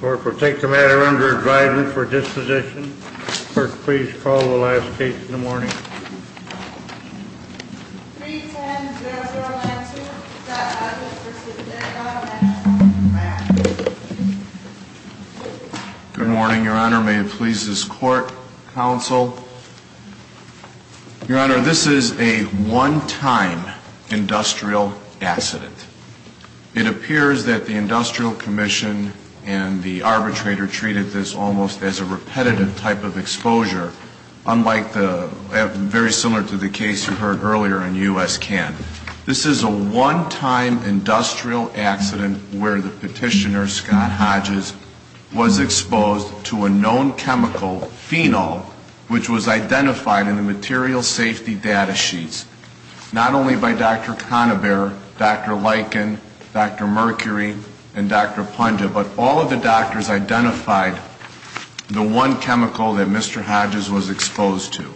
Court will take the matter under advisement for disposition. Clerk, please call the last case in the morning. 310-002, Scott Hodges v. Decker, National Command. Good morning, Your Honor. May it please this Court, Counsel. Your Honor, this is a one-time industrial accident. It appears that the Industrial Commission and the arbitrator treated this almost as a repetitive type of exposure, unlike the, very similar to the case you heard earlier in U.S. Cannes. This is a one-time industrial accident where the petitioner, Scott Hodges, was exposed to a known chemical, phenol, which was identified in the material safety data sheets. Not only by Dr. Conaber, Dr. Lichen, Dr. Mercury, and Dr. Punja, but all of the doctors identified the one chemical that Mr. Hodges was exposed to.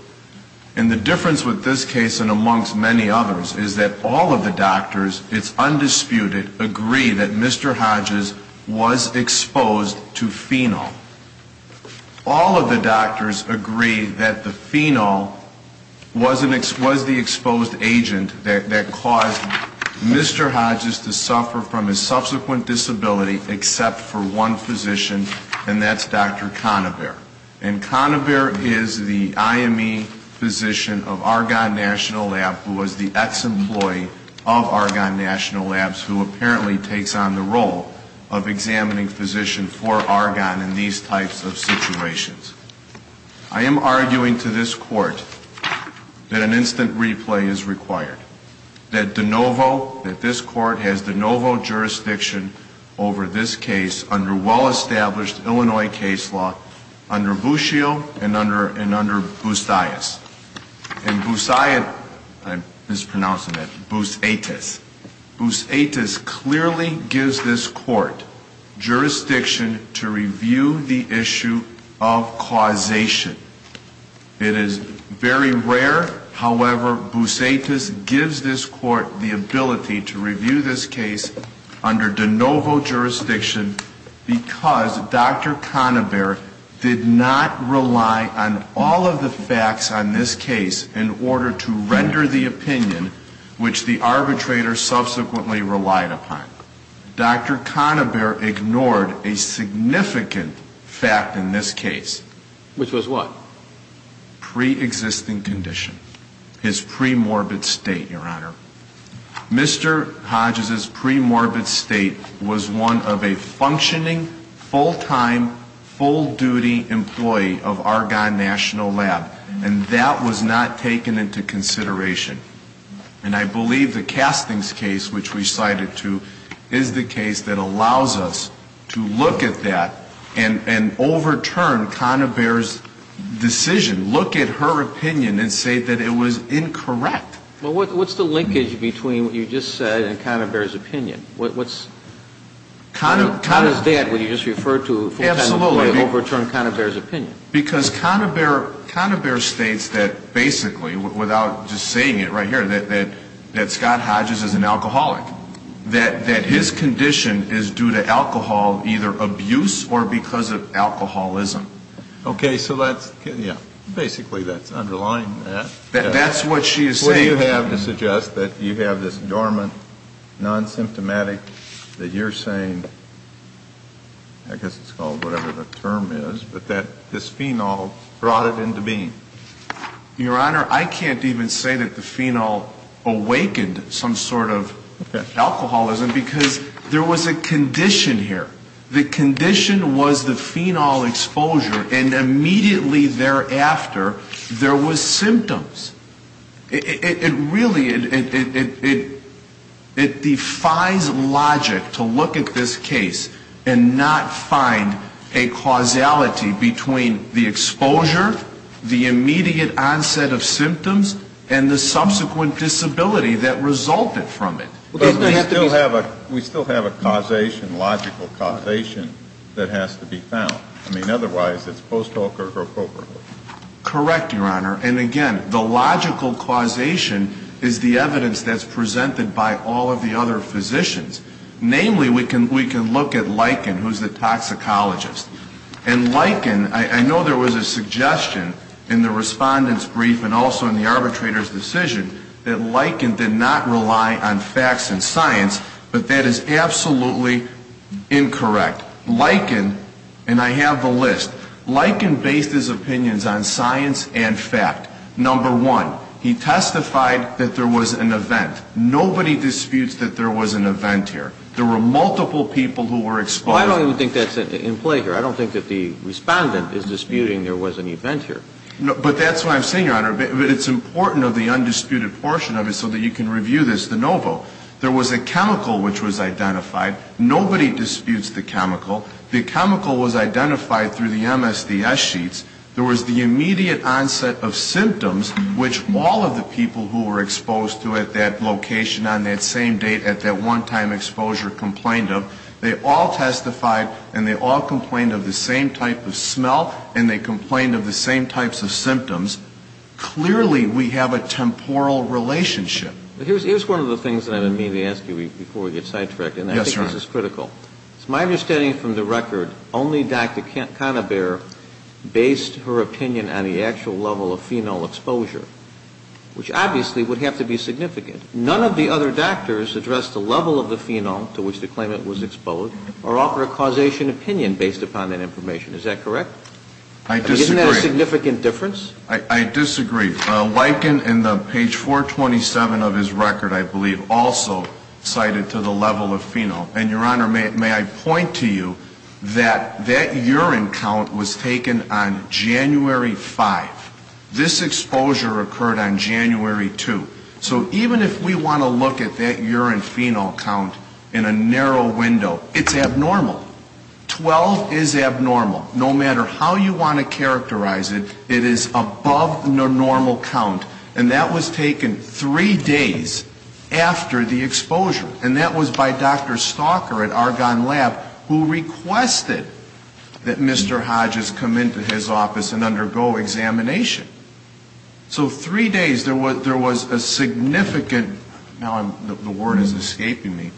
And the difference with this case, and amongst many others, is that all of the doctors, it's undisputed, agree that Mr. Hodges was exposed to phenol. All of the doctors agree that the phenol was the exposed agent that caused Mr. Hodges to suffer from his subsequent disability, except for one physician, and that's Dr. Conaber. And Conaber is the IME physician of Argonne National Lab, who was the ex-employee of Argonne National Labs, who apparently takes on the role of examining physician for Argonne in these types of situations. I am arguing to this Court that an instant replay is required. That De Novo, that this Court has De Novo jurisdiction over this case under well-established Illinois case law, under Buscio and under Boussiatis. And Boussiatis, I'm mispronouncing that, Boussiatis, Boussiatis clearly gives this Court jurisdiction to review the issue of causation. It is very rare, however, Boussiatis gives this Court the ability to review this case under De Novo jurisdiction because Dr. Conaber did not rely on all of the facts on this case in order to render the opinion which the arbitrator subsequently relied upon. Dr. Conaber ignored a significant fact in this case. Which was what? Pre-existing condition. His premorbid state, Your Honor. Mr. Hodges' premorbid state was one of a functioning, full-time, full-duty employee of Argonne National Lab. And that was not taken into consideration. And I believe the Castings case, which we cited to, is the case that allows us to look at that and overturn Conaber's decision, look at her opinion and say that it was incorrect. Well, what's the linkage between what you just said and Conaber's opinion? Conaber's dad, what you just referred to, full-time employee overturned Conaber's opinion. Because Conaber states that basically, without just saying it right here, that Scott Hodges is an alcoholic. That his condition is due to alcohol, either abuse or because of alcoholism. Okay, so that's, yeah, basically that's underlying that. That's what she is saying. Do you have to suggest that you have this dormant, non-symptomatic, that you're saying, I guess it's called whatever the term is, but that this phenol brought it into being? Your Honor, I can't even say that the phenol awakened some sort of alcoholism because there was a condition here. The condition was the phenol exposure and immediately thereafter, there was symptoms. It really, it defies logic to look at this case and not find a causality between the exposure, the immediate onset of symptoms, and the subsequent disability that resulted from it. We still have a causation, logical causation, that has to be found. I mean, otherwise, it's post hoc or co-co-co. Correct, Your Honor. And again, the logical causation is the evidence that's presented by all of the other physicians. Namely, we can look at Lichen, who's the toxicologist. And Lichen, I know there was a suggestion in the Respondent's brief and also in the arbitrator's decision that Lichen did not rely on facts and science, but that is absolutely incorrect. Lichen, and I have the list, Lichen based his opinions on science and fact. Number one, he testified that there was an event. Nobody disputes that there was an event here. There were multiple people who were exposed. Well, I don't even think that's in play here. I don't think that the Respondent is disputing there was an event here. But that's what I'm saying, Your Honor, but it's important of the undisputed portion of it so that you can review this de novo. There was a chemical which was identified. Nobody disputes the chemical. The chemical was identified through the MSDS sheets. There was the immediate onset of symptoms, which all of the people who were exposed to at that location on that same date at that one-time exposure complained of. They all testified, and they all complained of the same type of smell, and they complained of the same types of symptoms. Clearly, we have a temporal relationship. But here's one of the things that I didn't mean to ask you before we get sidetracked, and I think this is critical. Yes, Your Honor. It's my understanding from the record, only Dr. Canabare based her opinion on the actual level of phenol exposure, which obviously would have to be significant. None of the other doctors addressed the level of the phenol to which the claimant was exposed or offered a causation opinion based upon that information. Is that correct? I disagree. Isn't that a significant difference? I disagree. Lichen in the page 427 of his record, I believe, also cited to the level of phenol. And, Your Honor, may I point to you that that urine count was taken on January 5. This exposure occurred on January 2. So even if we want to look at that urine phenol count in a narrow window, it's abnormal. 12 is abnormal. No matter how you want to characterize it, it is above the normal count. And that was taken three days after the exposure. And that was by Dr. Stalker at Argonne Lab, who requested that Mr. Hodges come into his office and undergo examination. So three days, there was a significant, now the word is escaping me,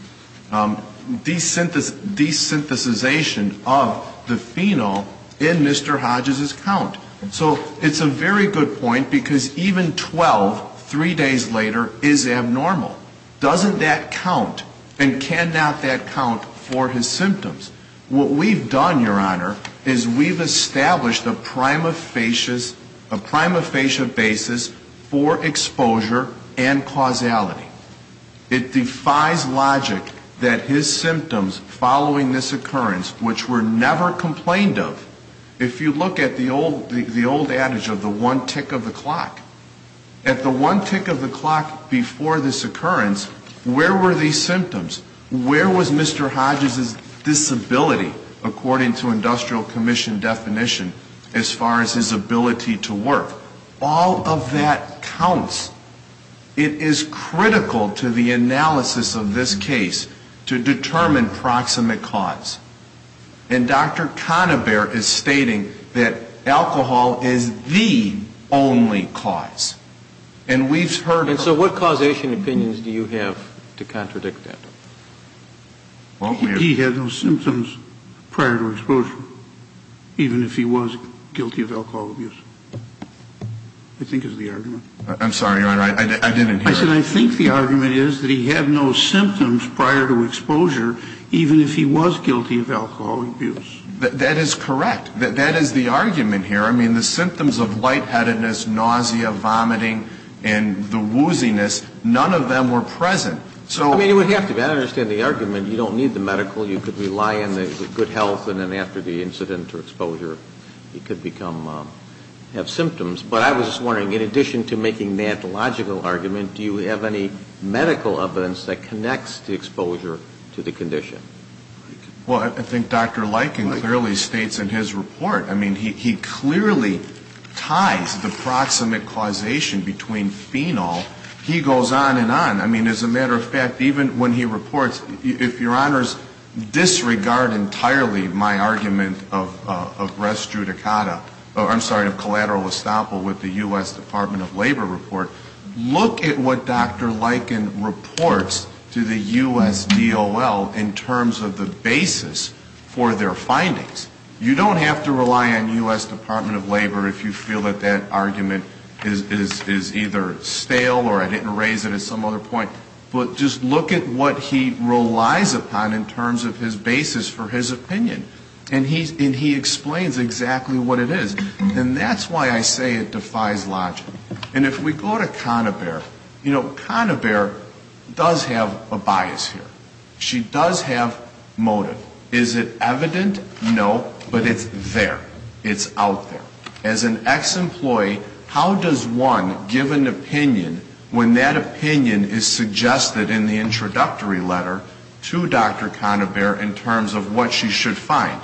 desynthesization of the phenol in Mr. Hodges' count. So it's a very good point, because even 12, three days later, is abnormal. Doesn't that count? And cannot that count for his symptoms? What we've done, Your Honor, is we've established a prima facie basis for exposure and causality. It defies logic that his symptoms following this occurrence, which were never complained of, if you look at the old adage of the one tick of the clock. At the one tick of the clock before this occurrence, where were these symptoms? Where was Mr. Hodges' disability, according to Industrial Commission definition, as far as his ability to work? All of that counts. It is critical to the analysis of this case to determine proximate cause. And Dr. Conover is stating that alcohol is the only cause. And so what causation opinions do you have to contradict that? He had no symptoms prior to exposure, even if he was guilty of alcohol abuse, I think is the argument. I'm sorry, Your Honor, I didn't hear it. I said I think the argument is that he had no symptoms prior to exposure, even if he was guilty of alcohol abuse. That is correct. That is the argument here. I mean, the symptoms of lightheadedness, nausea, vomiting, and the wooziness, none of them were present. I mean, it would have to be. I understand the argument. You don't need the medical. You could rely on the good health, and then after the incident or exposure, he could have symptoms. But I was just wondering, in addition to making that logical argument, do you have any medical evidence that connects the exposure to the condition? Well, I think Dr. Lykin clearly states in his report. I mean, he clearly ties the proximate causation between phenol. He goes on and on. I mean, as a matter of fact, even when he reports, if Your Honors disregard entirely my argument of res judicata, I'm sorry, of collateral estoppel with the U.S. Department of Labor report, look at what Dr. Lykin reports to the U.S. DOL in terms of the basis for their findings. You don't have to rely on U.S. Department of Labor if you feel that that argument is either stale or I didn't raise it at some other point. But just look at what he relies upon in terms of his basis for his opinion. And he explains exactly what it is. And that's why I say it defies logic. And if we go to Conabare, you know, Conabare does have a bias here. She does have motive. Is it evident? No. But it's there. It's out there. As an ex-employee, how does one give an opinion when that opinion is suggested in the introductory letter to Dr. Conabare in terms of what she should find?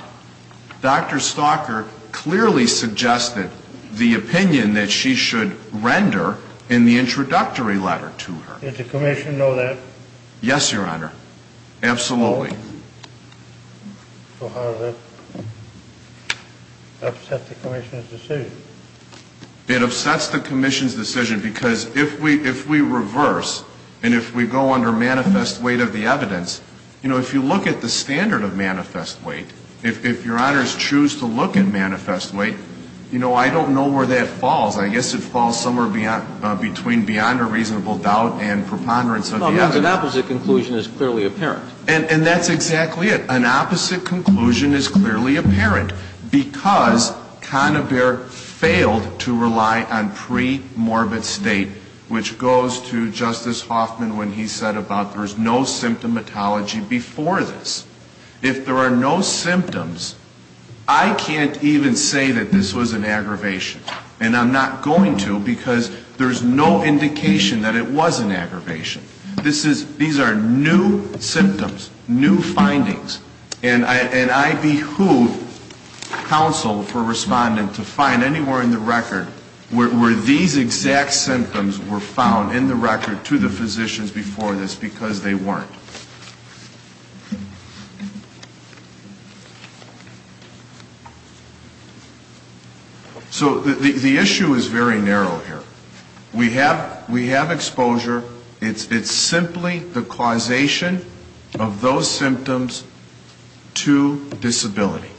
Dr. Stalker clearly suggested the opinion that she should render in the introductory letter to her. Does the commission know that? Yes, Your Honor. Absolutely. So how does that upset the commission's decision? It upsets the commission's decision because if we reverse and if we go under manifest weight of the evidence, you know, if you look at the standard of manifest weight, if Your Honors choose to look at manifest weight, you know, I don't know where that falls. I guess it falls somewhere between beyond a reasonable doubt and preponderance of the evidence. Because an opposite conclusion is clearly apparent. And that's exactly it. An opposite conclusion is clearly apparent because Conabare failed to rely on premorbid state, which goes to Justice Hoffman when he said about there's no symptomatology before this. If there are no symptoms, I can't even say that this was an aggravation. And I'm not going to because there's no indication that it was an aggravation. These are new symptoms, new findings. And I behoove counsel for respondent to find anywhere in the record where these exact symptoms were found in the record to the physicians before this because they weren't. So the issue is very narrow here. We have exposure. It's simply the causation of those symptoms to disability.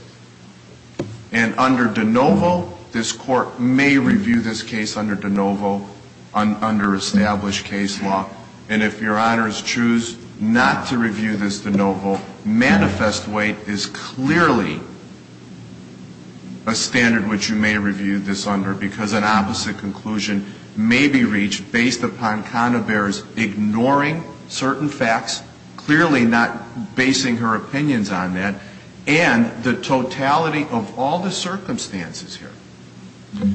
And under de novo, this Court may review this case under de novo, under established case law. And if Your Honors choose not to review this de novo, manifest weight is clearly a standard which you may review this under because an opposite conclusion may be reached based upon Conabare's ignoring certain facts, clearly not basing her opinions on that, and the totality of all the circumstances here.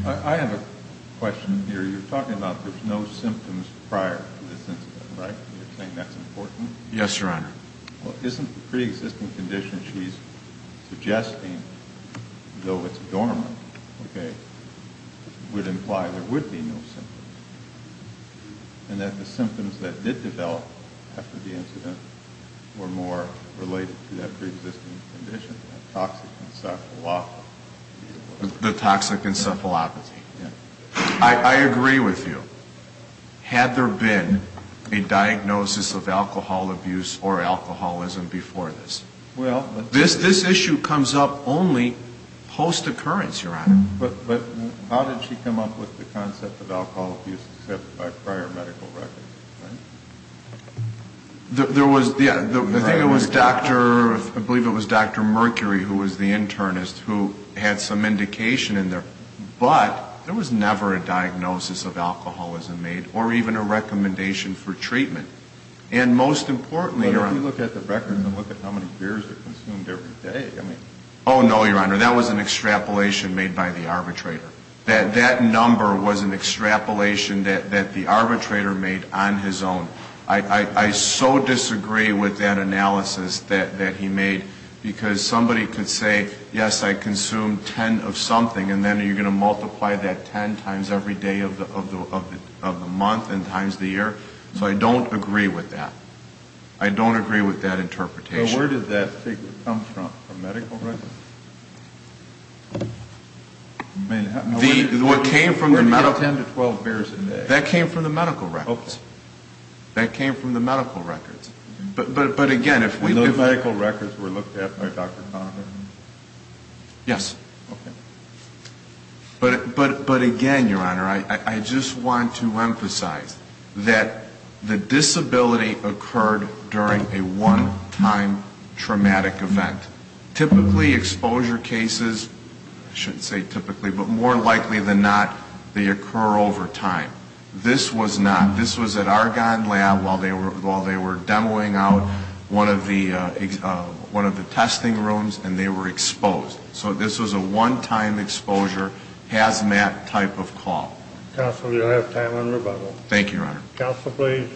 I have a question here. You're talking about there's no symptoms prior to this incident, right? You're saying that's important? Yes, Your Honor. Well, isn't the preexisting condition she's suggesting, though it's dormant, okay, would imply there would be no symptoms and that the symptoms that did develop after the incident were more related to that preexisting condition, that toxic encephalopathy? The toxic encephalopathy. Yes. I agree with you. Had there been a diagnosis of alcohol abuse or alcoholism before this? Well, let's see. This issue comes up only post-occurrence, Your Honor. But how did she come up with the concept of alcohol abuse except by prior medical records, right? There was, yeah, I think it was Dr. ‑‑ I believe it was Dr. Mercury who was the internist who had some indication in there. But there was never a diagnosis of alcoholism made or even a recommendation for treatment. And most importantly, Your Honor ‑‑ But if you look at the records and look at how many beers are consumed every day, I mean ‑‑ Oh, no, Your Honor. That was an extrapolation made by the arbitrator. That number was an extrapolation that the arbitrator made on his own. I so disagree with that analysis that he made because somebody could say, yes, I consumed ten of something and then you're going to multiply that ten times every day of the month and times the year. So I don't agree with that. I don't agree with that interpretation. Where did that figure come from? From medical records? What came from the medical ‑‑ 10 to 12 beers a day. That came from the medical records. Okay. That came from the medical records. But, again, if we look at ‑‑ Those medical records were looked at by Dr. Conover? Yes. Okay. But, again, Your Honor, I just want to emphasize that the disability occurred during a one‑time traumatic event. Typically, exposure cases, I shouldn't say typically, but more likely than not, they occur over time. This was not. This was at Argonne Lab while they were demoing out one of the testing rooms and they were exposed. So this was a one‑time exposure, hazmat type of call. Counsel, you'll have time on rebuttal. Thank you, Your Honor. Counsel, please.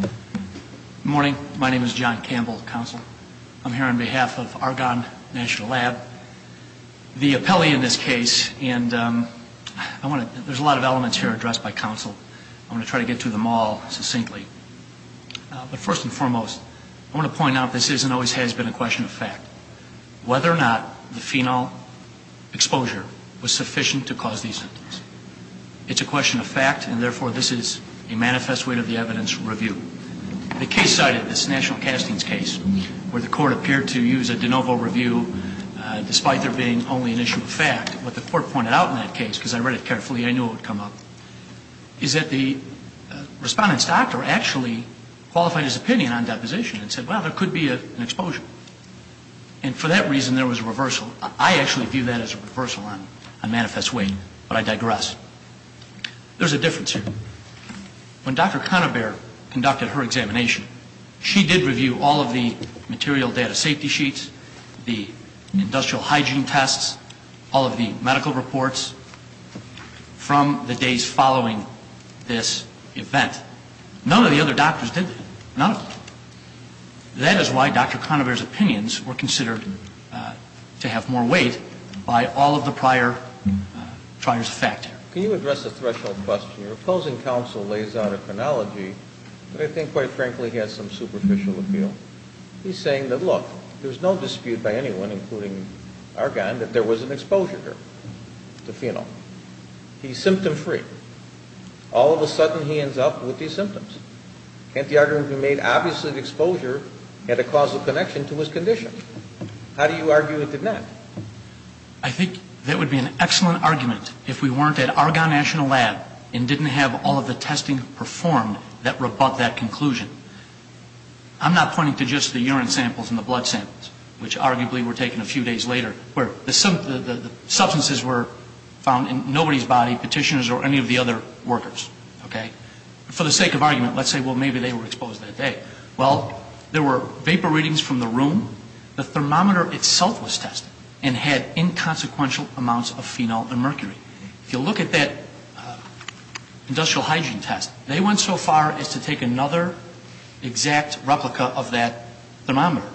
Good morning. My name is John Campbell, counsel. I'm here on behalf of Argonne National Lab, the appellee in this case. And I want to ‑‑ there's a lot of elements here addressed by counsel. I'm going to try to get to them all succinctly. But first and foremost, I want to point out this is and always has been a question of fact. Whether or not the phenol exposure was sufficient to cause these symptoms. It's a question of fact and, therefore, this is a manifest way to the evidence review. The case side of this national castings case where the court appeared to use a de novo review despite there being only an issue of fact, what the court pointed out in that case, because I read it carefully, I knew it would come up, is that the respondent's doctor actually qualified his opinion on deposition and said, well, there could be an exposure. And for that reason, there was a reversal. I actually view that as a reversal on manifest way, but I digress. There's a difference here. When Dr. Conabare conducted her examination, she did review all of the material data safety sheets, the industrial hygiene tests, all of the medical reports from the days following this event. None of the other doctors did. None of them. That is why Dr. Conabare's opinions were considered to have more weight by all of the prior trials of fact. Can you address the threshold question? Your opposing counsel lays out a chronology that I think, quite frankly, has some superficial appeal. He's saying that, look, there's no dispute by anyone, including Argonne, that there was an exposure to phenol. He's symptom free. All of a sudden he ends up with these symptoms. Can't the argument be made, obviously the exposure had a causal connection to his condition. How do you argue it did not? I think that would be an excellent argument if we weren't at Argonne National Lab and didn't have all of the testing performed that rebut that conclusion. I'm not pointing to just the urine samples and the blood samples, which arguably were taken a few days later, where the substances were found in nobody's body, petitioners or any of the other workers. For the sake of argument, let's say, well, maybe they were exposed that day. Well, there were vapor readings from the room. The thermometer itself was tested and had inconsequential amounts of phenol and mercury. If you look at that industrial hygiene test, they went so far as to take another exact replica of that thermometer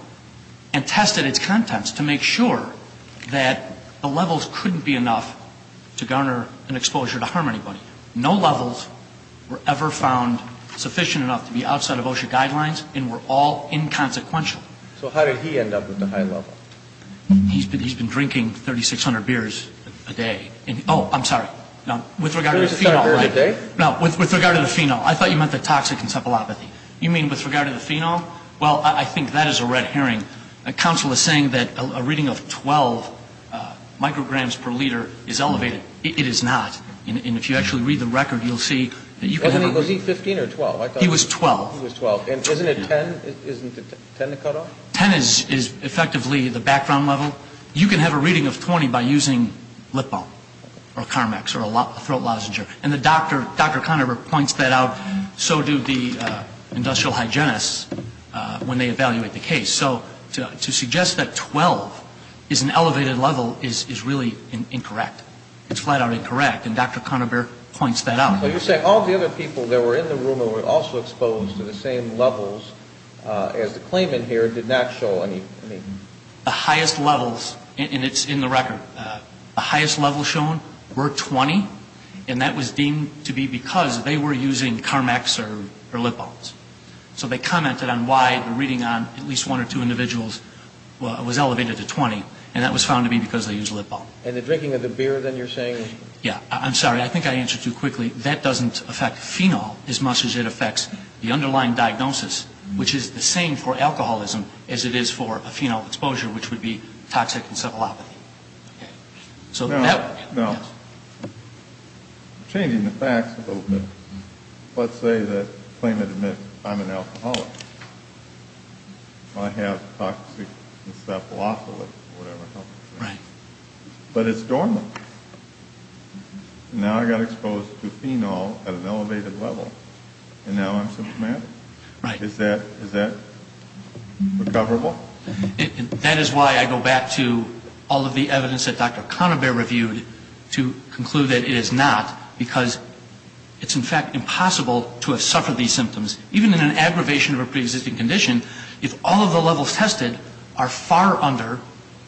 and tested its contents to make sure that the levels couldn't be enough to garner an exposure to harm anybody. No levels were ever found sufficient enough to be outside of OSHA guidelines and were all inconsequential. So how did he end up with the high level? He's been drinking 3,600 beers a day. Oh, I'm sorry. With regard to the phenol, I thought you meant the toxic encephalopathy. You mean with regard to the phenol? Well, I think that is a red herring. Counsel is saying that a reading of 12 micrograms per liter is elevated. It is not. And if you actually read the record, you'll see that you can have a reading. Was he 15 or 12? He was 12. He was 12. And isn't it 10 to cut off? 10 is effectively the background level. You can have a reading of 20 by using lip balm or Carmex or a throat lozenger. And Dr. Conover points that out. So do the industrial hygienists when they evaluate the case. So to suggest that 12 is an elevated level is really incorrect. It's flat out incorrect. And Dr. Conover points that out. So you're saying all of the other people that were in the room who were also exposed to the same levels as the claimant here did not show any? The highest levels, and it's in the record, the highest levels shown were 20. And that was deemed to be because they were using Carmex or lip balms. So they commented on why the reading on at least one or two individuals was elevated to 20. And that was found to be because they used lip balm. And the drinking of the beer, then, you're saying? Yeah. I'm sorry. I think I answered too quickly. That doesn't affect phenol as much as it affects the underlying diagnosis, which is the same for alcoholism as it is for a phenol exposure, which would be toxic encephalopathy. No. Changing the facts a little bit. Let's say that the claimant admits, I'm an alcoholic. I have toxic encephalopathy or whatever. Right. But it's normal. Now I got exposed to phenol at an elevated level, and now I'm symptomatic? Right. Is that recoverable? That is why I go back to all of the evidence that Dr. Conover reviewed to conclude that it is not because it's, in fact, impossible to have suffered these symptoms. Even in an aggravation of a preexisting condition, if all of the levels tested are far under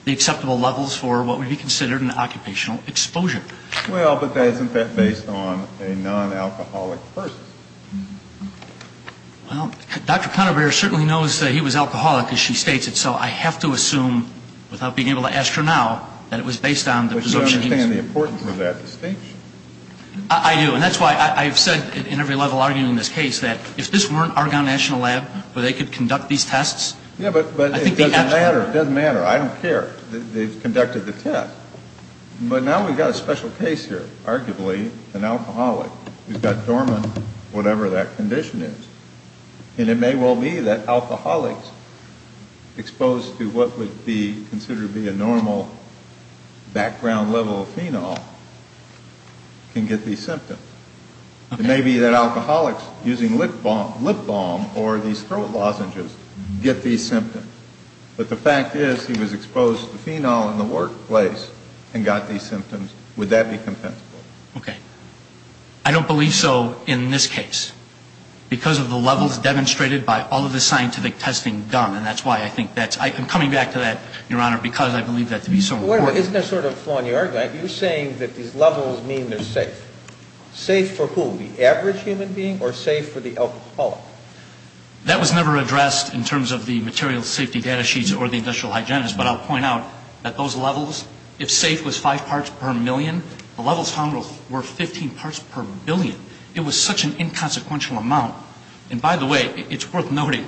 the acceptable levels for what would be considered an occupational exposure. Well, but that is, in fact, based on a non-alcoholic person. Well, Dr. Conover certainly knows that he was alcoholic, as she states it, so I have to assume, without being able to ask her now, that it was based on the presumption he was. But you understand the importance of that distinction. I do, and that's why I've said in every level arguing this case that if this weren't Argonne National Lab where they could conduct these tests, I think they have to. Yeah, but it doesn't matter. It doesn't matter. I don't care. They've conducted the test. But now we've got a special case here, arguably, an alcoholic who's got dormant whatever that condition is. And it may well be that alcoholics exposed to what would be considered to be a normal background level of phenol can get these symptoms. It may be that alcoholics using lip balm or these throat lozenges get these symptoms. But the fact is he was exposed to phenol in the workplace and got these symptoms. Would that be compensable? Okay. I don't believe so in this case because of the levels demonstrated by all of the scientific testing done. And that's why I think that's – I'm coming back to that, Your Honor, because I believe that to be so important. Wait a minute. Isn't there sort of a flaw in your argument? You're saying that these levels mean they're safe. Safe for who? The average human being or safe for the alcoholic? That was never addressed in terms of the material safety data sheets or the industrial hygienist. But I'll point out that those levels, if safe was five parts per million, the levels found were 15 parts per billion. It was such an inconsequential amount. And by the way, it's worth noting,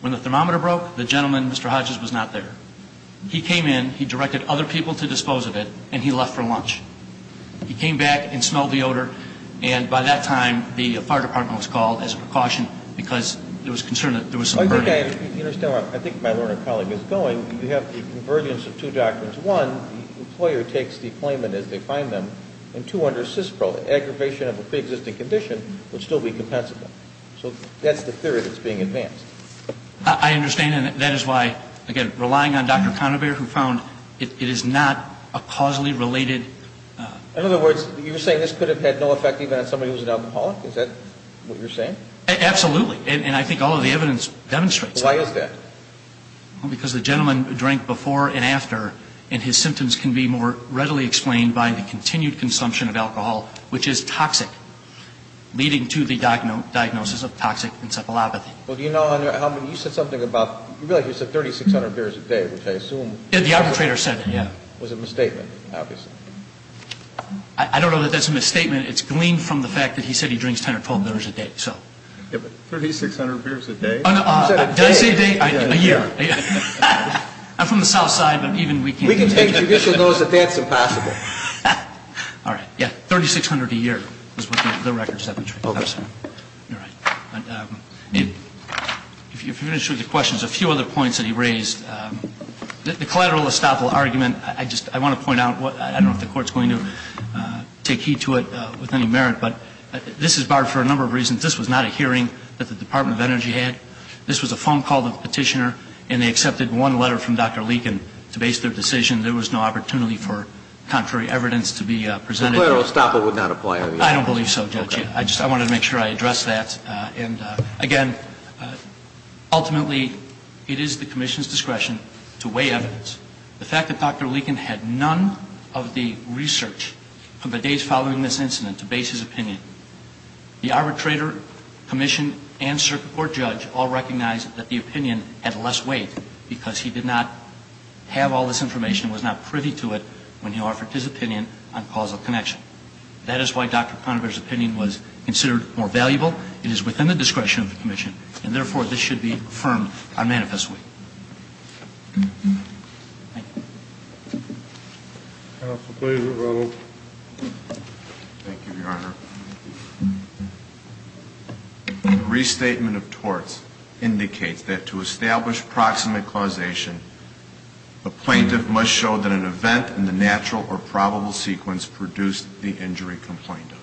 when the thermometer broke, the gentleman, Mr. Hodges, was not there. He came in, he directed other people to dispose of it, and he left for lunch. He came back and smelled the odor. And by that time, the fire department was called as a precaution because there was concern that there was some burden. I think I understand where I think my learned colleague is going. You have the convergence of two doctrines. One, the employer takes the claimant as they find them. And two, under CISPRO, the aggravation of a preexisting condition would still be compensable. So that's the theory that's being advanced. I understand, and that is why, again, relying on Dr. Conover, who found it is not a causally related. In other words, you're saying this could have had no effect even on somebody who was an alcoholic? Is that what you're saying? Absolutely. And I think all of the evidence demonstrates that. Why is that? Because the gentleman drank before and after, and his symptoms can be more readily explained by the continued consumption of alcohol, which is toxic, leading to the diagnosis of toxic encephalopathy. Well, do you know how many – you said something about – you said 3,600 beers a day, which I assume – Yeah, the arbitrator said it, yeah. It was a misstatement, obviously. I don't know that that's a misstatement. It's gleaned from the fact that he said he drinks 10 or 12 beers a day, so. 3,600 beers a day? Did I say a day? A year. I'm from the South Side, but even we can't – We can take judicial notice that that's impossible. All right, yeah, 3,600 a year is what the record said. If you finish with your questions, a few other points that he raised. The collateral estoppel argument, I just – I want to point out, I don't know if the Court's going to take heed to it with any merit, but this is barred for a number of reasons. This was not a hearing that the Department of Energy had. This was a phone call to the petitioner, and they accepted one letter from Dr. Leakin to base their decision. There was no opportunity for contrary evidence to be presented. The collateral estoppel would not apply, I mean. I don't believe so, Judge. I just – I wanted to make sure I addressed that. And, again, ultimately, it is the Commission's discretion to weigh evidence. The fact that Dr. Leakin had none of the research from the days following this incident to base his opinion, the arbitrator, Commission, and circuit court judge all recognized that the opinion had less weight because he did not have all this information, was not privy to it when he offered his opinion on causal connection. That is why Dr. Conover's opinion was considered more valuable. It is within the discretion of the Commission, and, therefore, this should be affirmed unmanifestly. Thank you. Counsel, please, Mr. Reynolds. Thank you, Your Honor. The restatement of torts indicates that to establish proximate causation, a plaintiff must show that an event in the natural or probable sequence produced the injury complained of.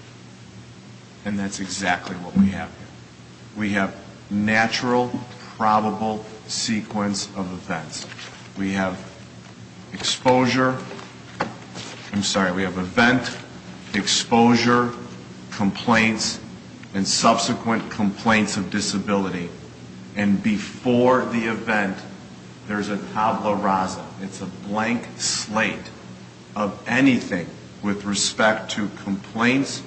And that's exactly what we have here. We have natural, probable sequence of events. We have exposure – I'm sorry. We have event, exposure, complaints, and subsequent complaints of disability. And before the event, there's a tabula rasa. It's a blank slate of anything with respect to complaints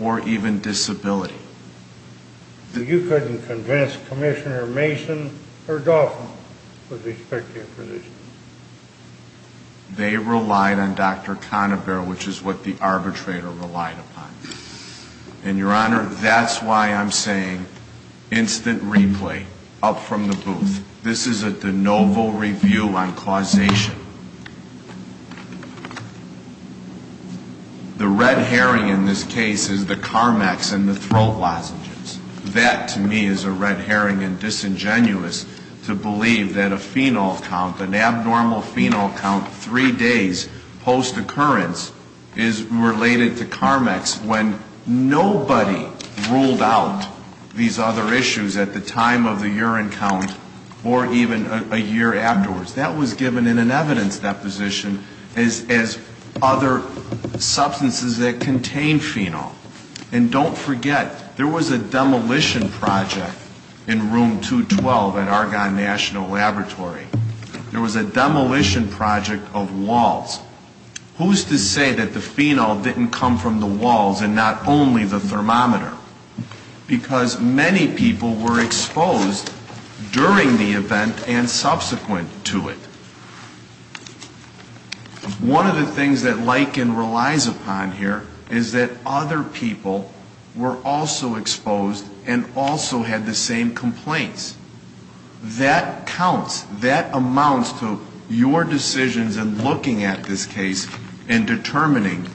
or even disability. So you couldn't convince Commissioner Mason or Dauphin with respect to your position? They relied on Dr. Conover, which is what the arbitrator relied upon. And, Your Honor, that's why I'm saying instant replay up from the booth. This is a de novo review on causation. The red herring in this case is the CARMEX and the throat lozenges. That, to me, is a red herring and disingenuous to believe that a fenal count, an abnormal fenal count three days post-occurrence is related to CARMEX when nobody ruled out these other issues at the time of the urine count or even a year afterwards. That was given in an evidence deposition as other substances that contain fenol. And don't forget, there was a demolition project in room 212 at Argonne National Laboratory. There was a demolition project of walls. Who's to say that the fenol didn't come from the walls and not only the thermometer? Because many people were exposed during the event and subsequent to it. One of the things that Liken relies upon here is that other people were also exposed and also had the same complaints. That counts. That amounts to your decisions in looking at this case and determining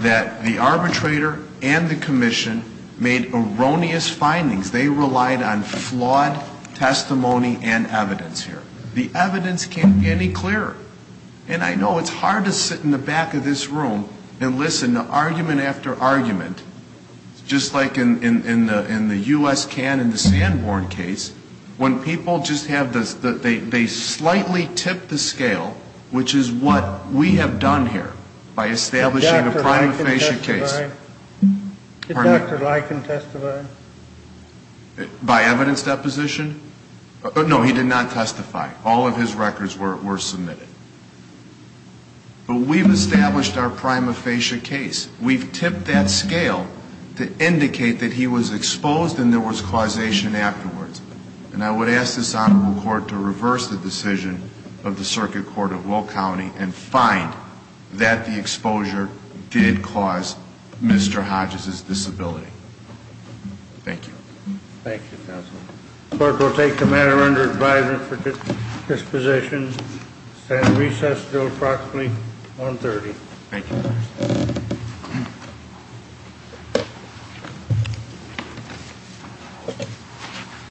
that the arbitrator and the commission made erroneous findings. They relied on flawed testimony and evidence here. The evidence can't be any clearer. And I know it's hard to sit in the back of this room and listen to argument after argument, just like in the U.S. can in the Sanborn case, when people just have this, they slightly tip the scale, which is what we have done here by establishing a prima facie case. Did Dr. Liken testify? By evidence deposition? No, he did not testify. All of his records were submitted. But we've established our prima facie case. We've tipped that scale to indicate that he was exposed and there was causation afterwards. And I would ask this Honorable Court to reverse the decision of the Circuit Court of Will County and find that the exposure did cause Mr. Hodges' disability. Thank you. Thank you, Counsel. The court will take the matter under advisement for disposition and stand recess until approximately 1.30. Thank you.